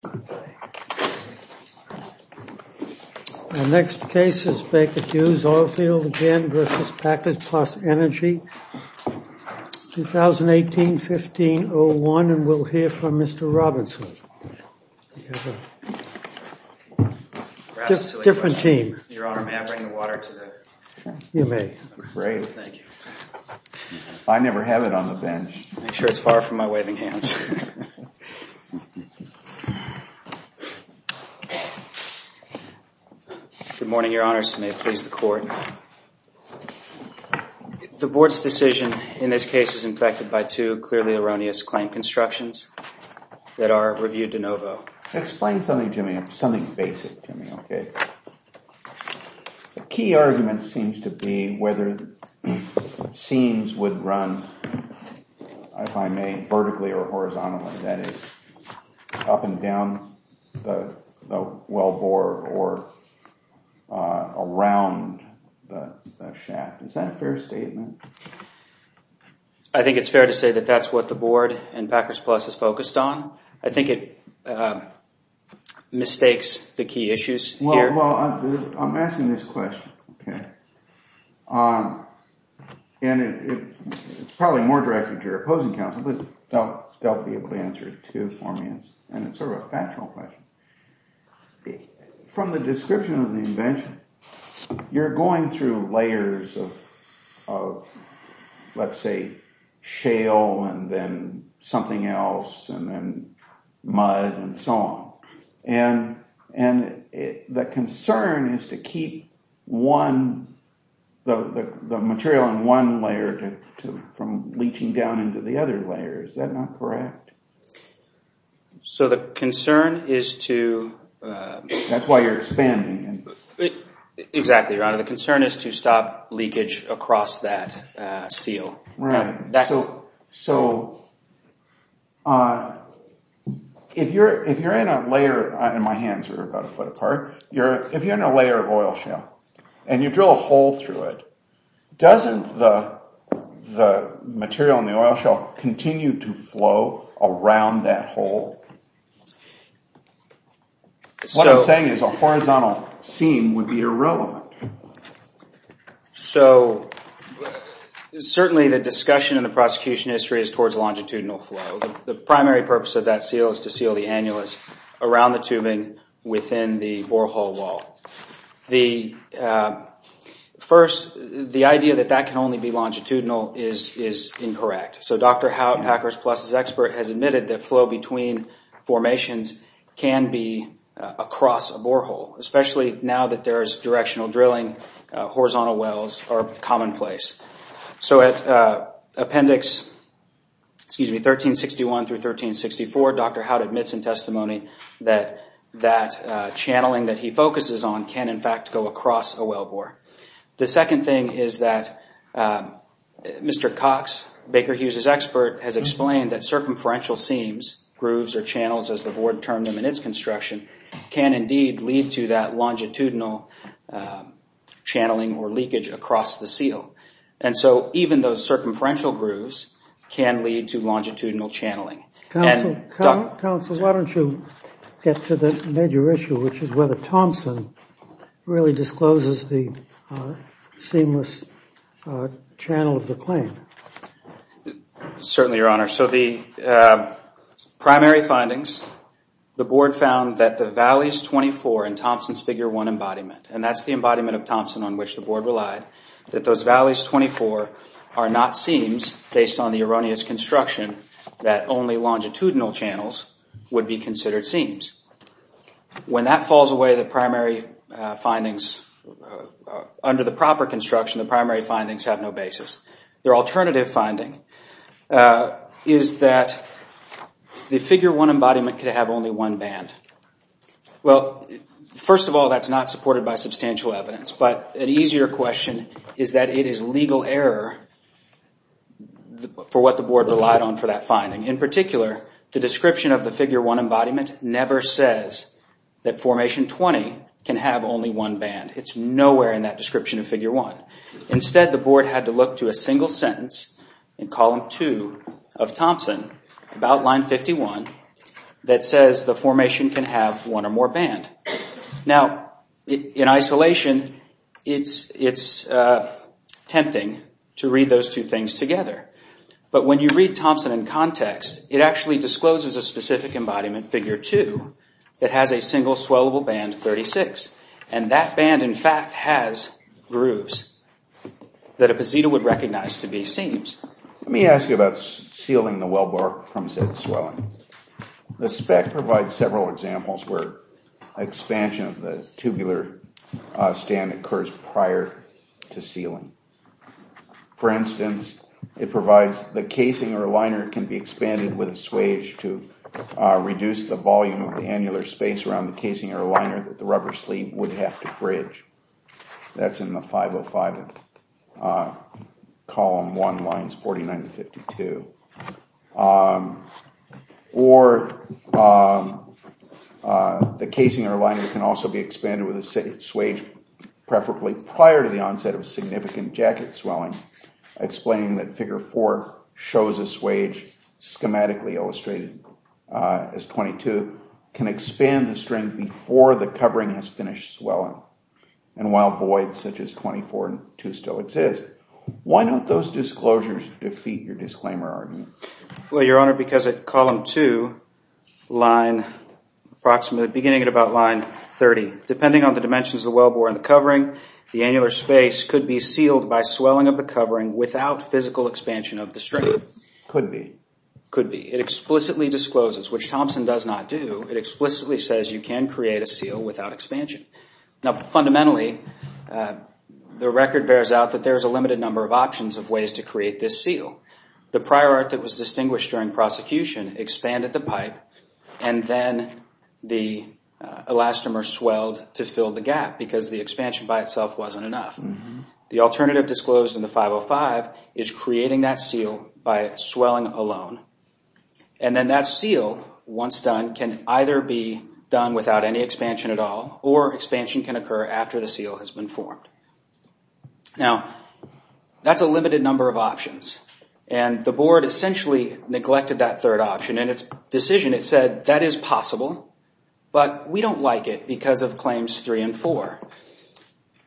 2018-15-01 The board's decision in this case is infected by two clearly erroneous claim constructions that are reviewed de novo. Explain something basic to me. The key argument seems to be whether seams would run, if I may, vertically or horizontally. That is, up and down the wellbore or around the shaft. Is that a fair statement? I think it's fair to say that that's what the board and Packers Plus is focused on. I think it mistakes the key issues here. I'm asking this question, and it's probably more directed to your opposing counsel, but they'll be able to answer it too for me, and it's sort of a factual question. From the description of the invention, you're going through layers of, let's say, shale, and then something else, and then mud, and so on. And the concern is to keep the material in one layer from leaching down into the other layer. Is that not correct? So the concern is to... That's why you're expanding. Exactly, Your Honor. The concern is to stop leakage across that seal. So if you're in a layer, and my hands are about a foot apart, if you're in a layer of oil shale, and you drill a hole through it, doesn't the material in the oil shale continue to flow around that hole? What I'm saying is a horizontal seam would be irrelevant. So certainly the discussion in the prosecution history is towards longitudinal flow. The primary purpose of that seal is to seal the annulus around the tubing within the borehole wall. First, the idea that that can only be longitudinal is incorrect. So Dr. Howde, Packers Plus' expert, has admitted that flow between formations can be across a borehole. Especially now that there is directional drilling, horizontal wells are commonplace. So at Appendix 1361 through 1364, Dr. Howde admits in testimony that that channeling that he focuses on can, in fact, go across a wellbore. The second thing is that Mr. Cox, Baker Hughes' expert, has explained that circumferential seams, grooves or channels as the board termed them in its construction, can indeed lead to that longitudinal channeling or leakage across the seal. And so even those circumferential grooves can lead to longitudinal channeling. Counsel, why don't you get to the major issue, which is whether Thompson really discloses the seamless channel of the claim? Certainly, Your Honor. So the primary findings, the board found that the valleys 24 in Thompson's Figure 1 embodiment, and that's the embodiment of Thompson on which the board relied, that those valleys 24 are not seams based on the erroneous construction that only longitudinal channels would be considered seams. When that falls away, the primary findings, under the proper construction, the primary findings have no basis. Their alternative finding is that the Figure 1 embodiment could have only one band. Well, first of all, that's not supported by substantial evidence. But an easier question is that it is legal error for what the board relied on for that finding. In particular, the description of the Figure 1 embodiment never says that Formation 20 can have only one band. It's nowhere in that description of Figure 1. Instead, the board had to look to a single sentence in Column 2 of Thompson, about Line 51, that says the formation can have one or more band. Now, in isolation, it's tempting to read those two things together. But when you read Thompson in context, it actually discloses a specific embodiment, Figure 2, that has a single swellable band, 36. And that band, in fact, has grooves that a posita would recognize to be seams. Let me ask you about sealing the wellbore from said swelling. The spec provides several examples where expansion of the tubular stand occurs prior to sealing. For instance, it provides the casing or liner can be expanded with a swage to reduce the volume of the annular space around the casing or liner that the rubber sleeve would have to bridge. That's in the 505 of Column 1, Lines 49-52. Or the casing or liner can also be expanded with a swage, preferably prior to the onset of significant jacket swelling. Explaining that Figure 4 shows a swage, schematically illustrated as 22, can expand the string before the covering has finished swelling. And while voids such as 24 and 2 still exist, why don't those disclosures defeat your disclaimer argument? Well, Your Honor, because at Column 2, beginning at about Line 30, depending on the dimensions of the wellbore and the covering, the annular space could be sealed by swelling of the covering without physical expansion of the string. Could be. Could be. It explicitly discloses, which Thompson does not do. It explicitly says you can create a seal without expansion. Now, fundamentally, the record bears out that there is a limited number of options of ways to create this seal. The prior art that was distinguished during prosecution expanded the pipe and then the elastomer swelled to fill the gap because the expansion by itself wasn't enough. The alternative disclosed in the 505 is creating that seal by swelling alone. And then that seal, once done, can either be done without any expansion at all or expansion can occur after the seal has been formed. Now, that's a limited number of options. And the Board essentially neglected that third option. In its decision, it said that is possible, but we don't like it because of Claims 3 and 4.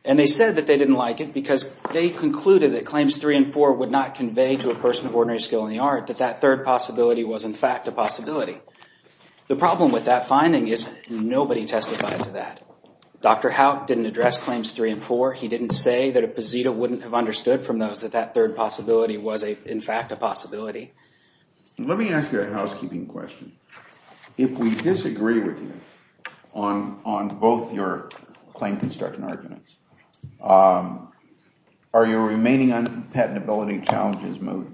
And they said that they didn't like it because they concluded that Claims 3 and 4 would not convey to a person of ordinary skill in the art that that third possibility was, in fact, a possibility. The problem with that finding is nobody testified to that. Dr. Howe didn't address Claims 3 and 4. He didn't say that a posita wouldn't have understood from those that that third possibility was, in fact, a possibility. Let me ask you a housekeeping question. If we disagree with you on both your claim construction arguments, are your remaining unpatentability challenges moved?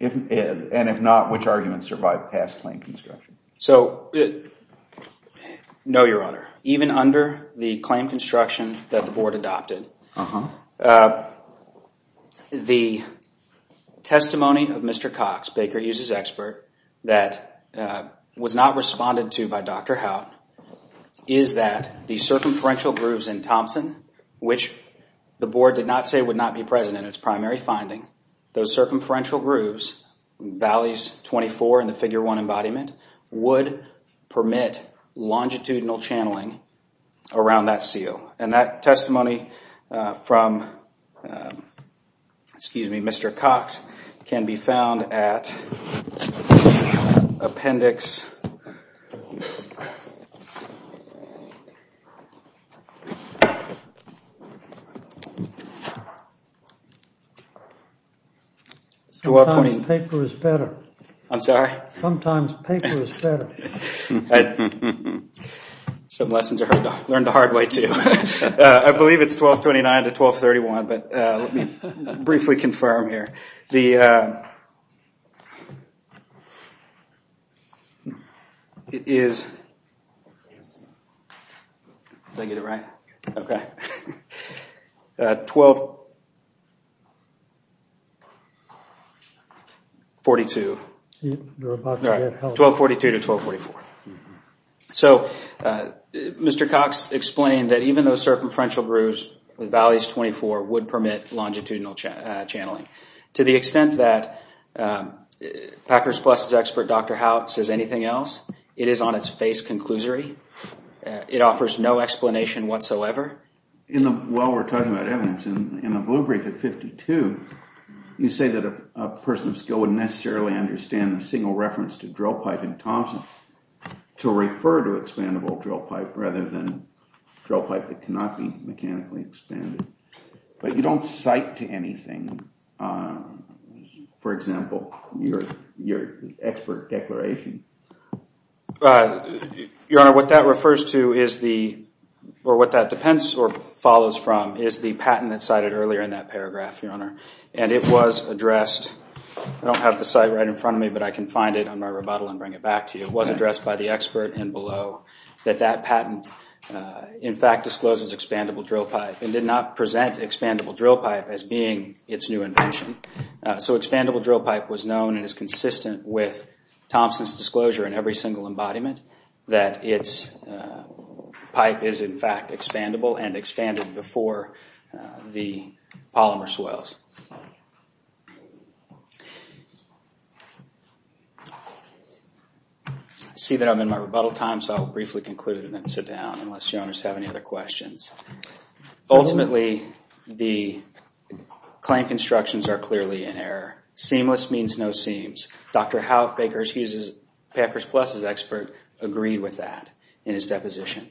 And if not, which arguments survive past claim construction? So, no, Your Honor. Even under the claim construction that the Board adopted, the testimony of Mr. Cox, Baker Hughes' expert, that was not responded to by Dr. Howe, is that the circumferential grooves in Thompson, which the Board did not say would not be present in its primary finding, those circumferential grooves, Valleys 24 and the Figure 1 embodiment, would permit longitudinal channeling around that seal. And that testimony from Mr. Cox can be found at Appendix 12. Sometimes paper is better. Some lessons are learned the hard way, too. I believe it's 1229 to 1231, but let me briefly confirm here. It is 1242 to 1244. So Mr. Cox explained that even those circumferential grooves with Valleys 24 would permit longitudinal channeling. To the extent that Packers Plus' expert, Dr. Howe, says anything else, it is on its face conclusory. It offers no explanation whatsoever. While we're talking about evidence, in the blue brief at 52, you say that a person of skill wouldn't necessarily understand the single reference to drill pipe in Thompson to refer to expandable drill pipe rather than drill pipe that cannot be mechanically expanded. But you don't cite to anything, for example, your expert declaration. Your Honor, what that refers to is the, or what that depends or follows from, is the patent that's cited earlier in that paragraph, Your Honor. And it was addressed, I don't have the site right in front of me, but I can find it on my rebuttal and bring it back to you. It was addressed by the expert and below that that patent, in fact, discloses expandable drill pipe and did not present expandable drill pipe as being its new invention. So expandable drill pipe was known and is consistent with Thompson's disclosure in every single embodiment that its pipe is, in fact, expandable and expanded before the polymer swells. I see that I'm in my rebuttal time, so I'll briefly conclude and then sit down unless Your Honors have any other questions. Ultimately, the claim constructions are clearly in error. Seamless means no seams. Dr. Howe, Packers Plus' expert, agreed with that in his deposition.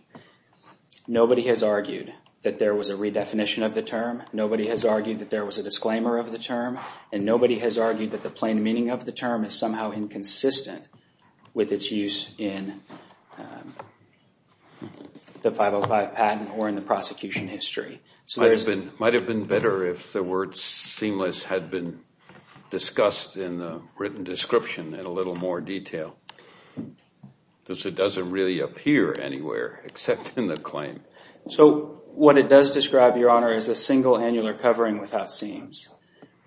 Nobody has argued that there was a redefinition of the term. Nobody has argued that there was a disclaimer of the term. And nobody has argued that the plain meaning of the term is somehow inconsistent with its use in the 505 patent or in the prosecution history. It might have been better if the word seamless had been discussed in the written description in a little more detail. Because it doesn't really appear anywhere except in the claim. So what it does describe, Your Honor, is a single annular covering without seams.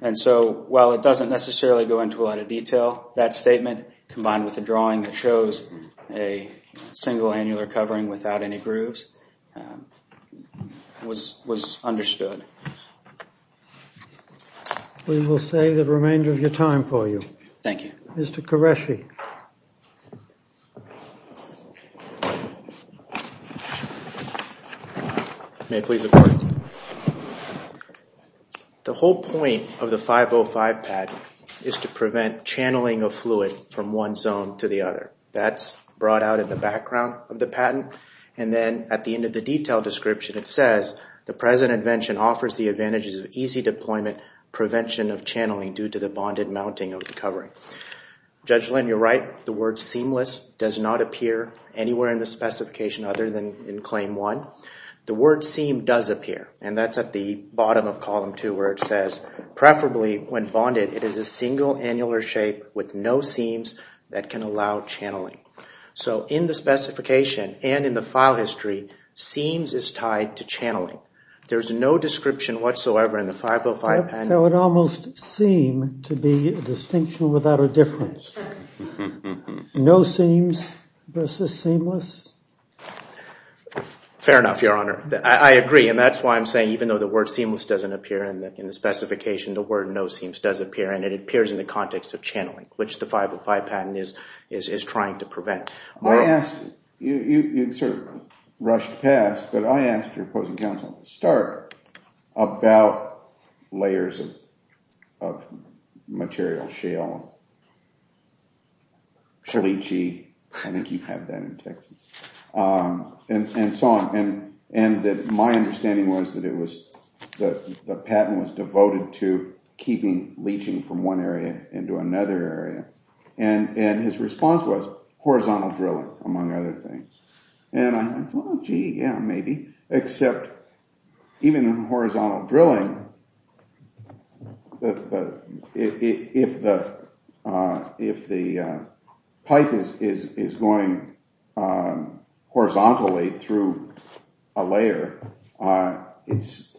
And so while it doesn't necessarily go into a lot of detail, that statement combined with the drawing that shows a single annular covering without any grooves was understood. We will save the remainder of your time for you. Thank you. Mr. Qureshi. May it please the Court. The whole point of the 505 patent is to prevent channeling of fluid from one zone to the other. That's brought out in the background of the patent. And then at the end of the detailed description, it says, the present invention offers the advantages of easy deployment, prevention of channeling due to the bonded mounting of the covering. Judge Lynn, you're right. The word seamless does not appear anywhere in the specification other than in claim one. The word seam does appear. And that's at the bottom of column two where it says, preferably when bonded, it is a single annular shape with no seams that can allow channeling. So in the specification and in the file history, seams is tied to channeling. There's no description whatsoever in the 505 patent. It would almost seem to be a distinction without a difference. No seams versus seamless. Fair enough, Your Honor. I agree. And that's why I'm saying even though the word seamless doesn't appear in the specification, the word no seams does appear. And it appears in the context of channeling, which the 505 patent is trying to prevent. You sort of rushed past, but I asked your opposing counsel at the start about layers of material, shale, leachy, I think you have that in Texas, and so on. And my understanding was that the patent was devoted to keeping leaching from one area into another area. And his response was horizontal drilling, among other things. And I thought, gee, yeah, maybe. Except even in horizontal drilling, if the pipe is going horizontally through a layer, it's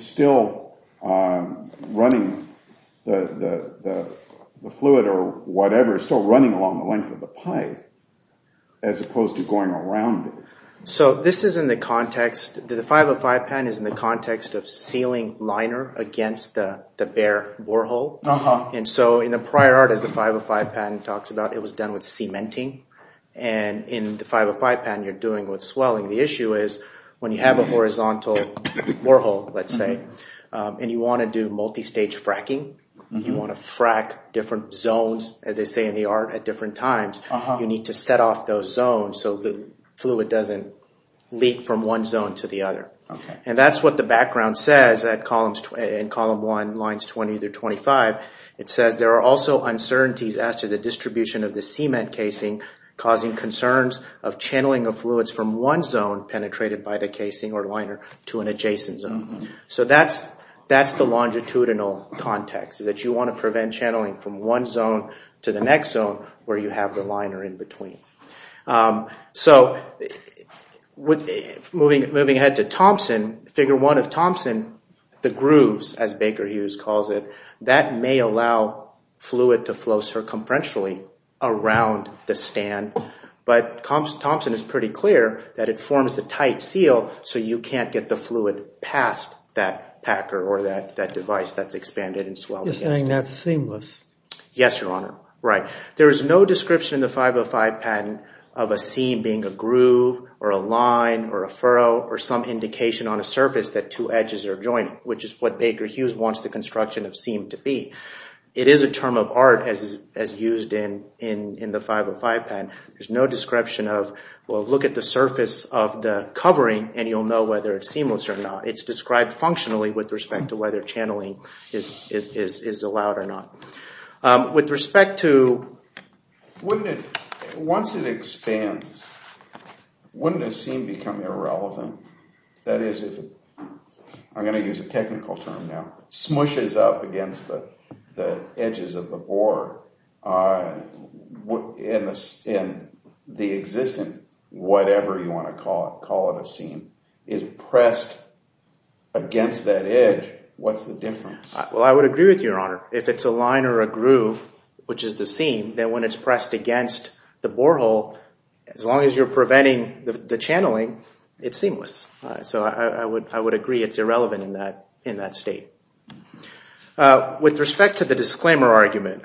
still running the fluid or whatever. It's still running along the length of the pipe as opposed to going around it. So this is in the context, the 505 patent is in the context of sealing liner against the bare borehole. And so in the prior art, as the 505 patent talks about, it was done with cementing. And in the 505 patent, you're doing it with swelling. The issue is when you have a horizontal borehole, let's say, and you want to do multistage fracking, you want to frack different zones, as they say in the art, at different times, you need to set off those zones so the fluid doesn't leak from one zone to the other. And that's what the background says in column one, lines 20 through 25. It says there are also uncertainties as to the distribution of the cement casing, causing concerns of channeling of fluids from one zone penetrated by the casing or liner to an adjacent zone. So that's the longitudinal context, that you want to prevent channeling from one zone to the next zone where you have the liner in between. So moving ahead to Thompson, figure one of Thompson, the grooves, as Baker Hughes calls it, that may allow fluid to flow circumferentially around the stand. But Thompson is pretty clear that it forms a tight seal so you can't get the fluid past that packer or that device that's expanded and swelled against it. You're saying that's seamless? Yes, Your Honor. Right. There is no description in the 505 patent of a seam being a groove or a line or a furrow or some indication on a surface that two edges are joining, which is what Baker Hughes wants the construction of seam to be. It is a term of art, as used in the 505 patent. There's no description of, well, look at the surface of the covering and you'll know whether it's seamless or not. It's described functionally with respect to whether channeling is allowed or not. With respect to... Once it expands, wouldn't a seam become irrelevant? That is, I'm going to use a technical term now, smushes up against the edges of the board. In the existing, whatever you want to call it, call it a seam, is pressed against that edge, what's the difference? Well, I would agree with you, Your Honor. If it's a line or a groove, which is the seam, then when it's pressed against the borehole, as long as you're preventing the channeling, it's seamless. So I would agree it's irrelevant in that state. With respect to the disclaimer argument,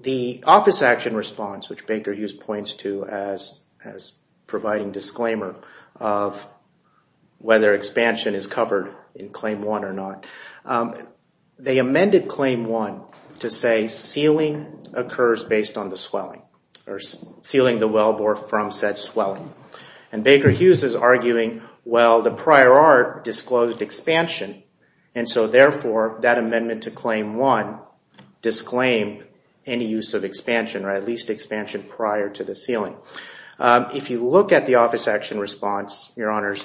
the office action response, which Baker Hughes points to as providing disclaimer of whether expansion is covered in Claim 1 or not, they amended Claim 1 to say sealing occurs based on the swelling, and Baker Hughes is arguing, well, the prior art disclosed expansion, and so therefore that amendment to Claim 1 disclaimed any use of expansion, or at least expansion prior to the sealing. If you look at the office action response, Your Honors,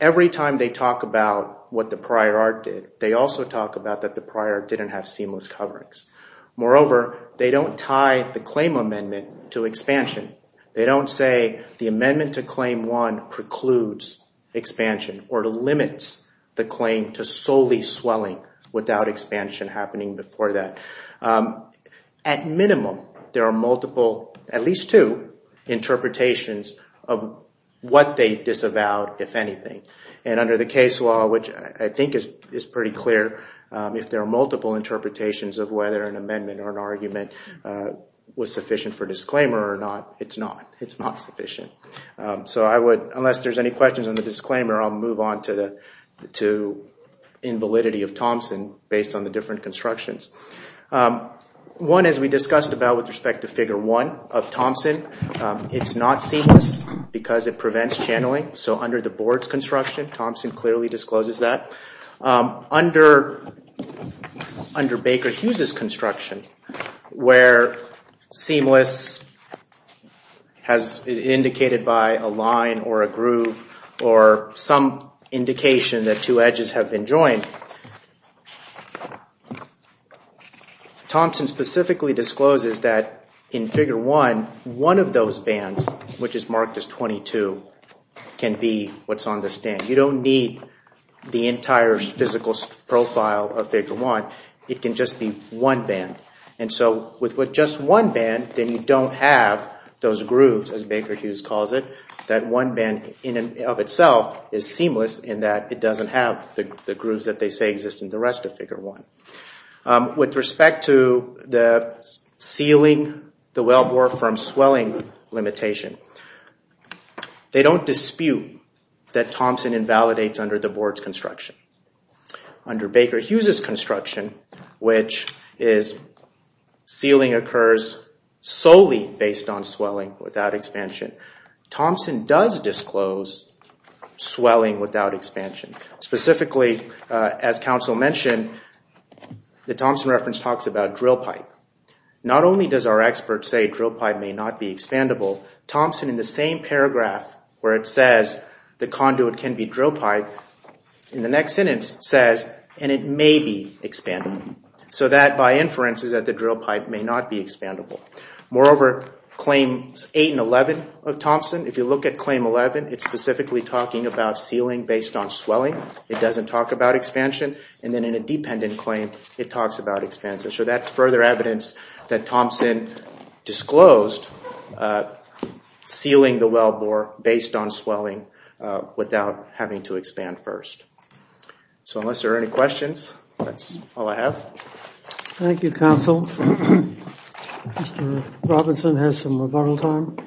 every time they talk about what the prior art did, they also talk about that the prior art didn't have seamless coverings. Moreover, they don't tie the claim amendment to expansion. They don't say the amendment to Claim 1 precludes expansion or limits the claim to solely swelling without expansion happening before that. At minimum, there are multiple, at least two, interpretations of what they disavowed, if anything. And under the case law, which I think is pretty clear, if there are multiple interpretations of whether an amendment or an argument was sufficient for disclaimer or not, it's not. It's not sufficient. So I would, unless there's any questions on the disclaimer, I'll move on to invalidity of Thompson based on the different constructions. One, as we discussed about with respect to Figure 1 of Thompson, it's not seamless because it prevents channeling. So under the board's construction, Thompson clearly discloses that. Under Baker Hughes' construction, where seamless is indicated by a line or a groove or some indication that two edges have been joined, Thompson specifically discloses that in Figure 1, one of those bands, which is marked as 22, can be what's on the stand. You don't need the entire physical profile of Figure 1. It can just be one band. And so with just one band, then you don't have those grooves, as Baker Hughes calls it, that one band of itself is seamless in that it doesn't have the grooves that they say exist in the rest of Figure 1. With respect to sealing the wellbore from swelling limitation, they don't dispute that Thompson invalidates under the board's construction. Under Baker Hughes' construction, which is sealing occurs solely based on swelling without expansion, Thompson does disclose swelling without expansion. Specifically, as counsel mentioned, the Thompson reference talks about drill pipe. Not only does our expert say drill pipe may not be expandable, Thompson, in the same paragraph where it says the conduit can be drill pipe, in the next sentence says, and it may be expandable. So that, by inference, is that the drill pipe may not be expandable. Moreover, Claims 8 and 11 of Thompson, if you look at Claim 11, it's specifically talking about sealing based on swelling. It doesn't talk about expansion. And then in a dependent claim, it talks about expansion. So that's further evidence that Thompson disclosed sealing the wellbore based on swelling without having to expand first. So unless there are any questions, that's all I have. Thank you, counsel. Mr. Robinson has some rebuttal time.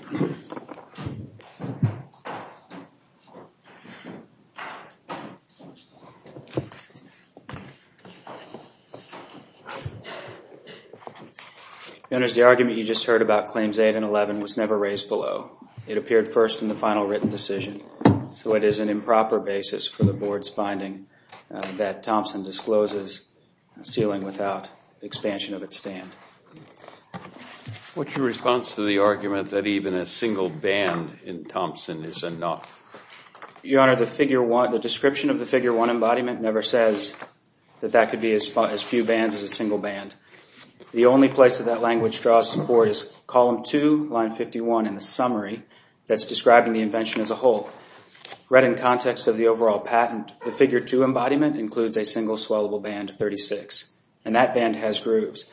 Your Honor, the argument you just heard about Claims 8 and 11 was never raised below. It appeared first in the final written decision. So it is an improper basis for the Board's finding that Thompson discloses sealing without expansion of its stand. What's your response to the argument that even a single band in Thompson is enough? Your Honor, the description of the Figure 1 embodiment never says that that could be as few bands as a single band. The only place that that language draws support is Column 2, Line 51 in the summary that's describing the invention as a whole. Read in context of the overall patent, the Figure 2 embodiment includes a single swellable band of 36, and that band has grooves.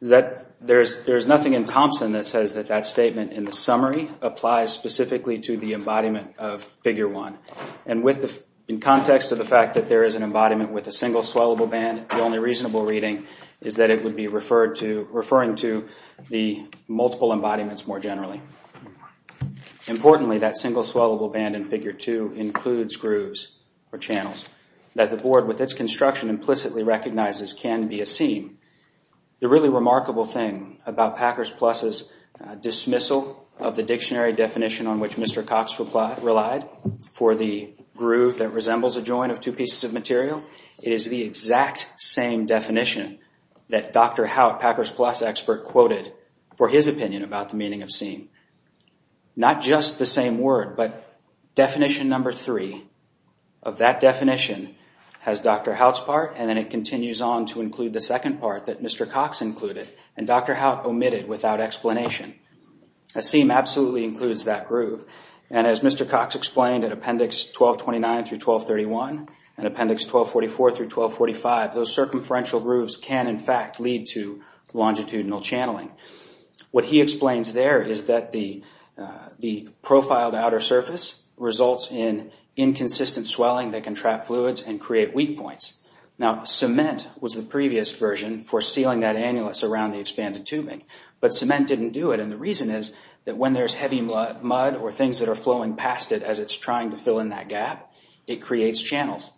There's nothing in Thompson that says that that statement in the summary applies specifically to the embodiment of Figure 1. In context of the fact that there is an embodiment with a single swellable band, the only reasonable reading is that it would be referring to the multiple embodiments more generally. Importantly, that single swellable band in Figure 2 includes grooves or channels that the Board, with its construction, implicitly recognizes can be a seam. The really remarkable thing about Packers Plus' dismissal of the dictionary definition on which Mr. Cox relied for the groove that resembles a joint of two pieces of material, it is the exact same definition that Dr. Haut, Packers Plus expert, quoted for his opinion about the meaning of seam. Not just the same word, but definition number three of that definition has Dr. Haut's part, and then it continues on to include the second part that Mr. Cox included, and Dr. Haut omitted without explanation. A seam absolutely includes that groove, and as Mr. Cox explained in Appendix 1229 through 1231 and Appendix 1244 through 1245, those circumferential grooves can, in fact, lead to longitudinal channeling. What he explains there is that the profiled outer surface results in inconsistent swelling that can trap fluids and create weak points. Now, cement was the previous version for sealing that annulus around the and the reason is that when there's heavy mud or things that are flowing past it as it's trying to fill in that gap, it creates channels.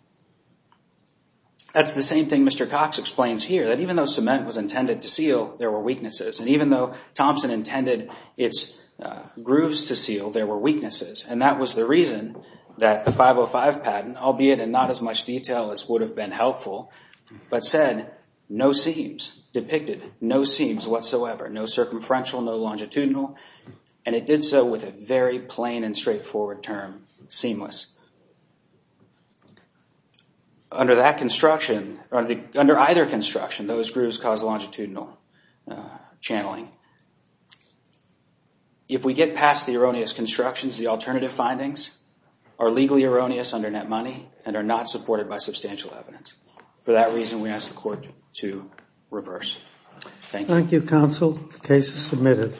That's the same thing Mr. Cox explains here, that even though cement was intended to seal, there were weaknesses, and even though Thompson intended its grooves to seal, there were weaknesses, and that was the reason that the 505 patent, albeit in not as much detail as would have been helpful, but said, no seams, depicted no seams whatsoever, no circumferential, no longitudinal, and it did so with a very plain and straightforward term, seamless. Under that construction, under either construction, those grooves cause longitudinal channeling. If we get past the erroneous constructions, the alternative findings are legally erroneous under net money and are not supported by substantial evidence. For that reason, we ask the court to reverse. Thank you. Thank you, counsel. The case is submitted.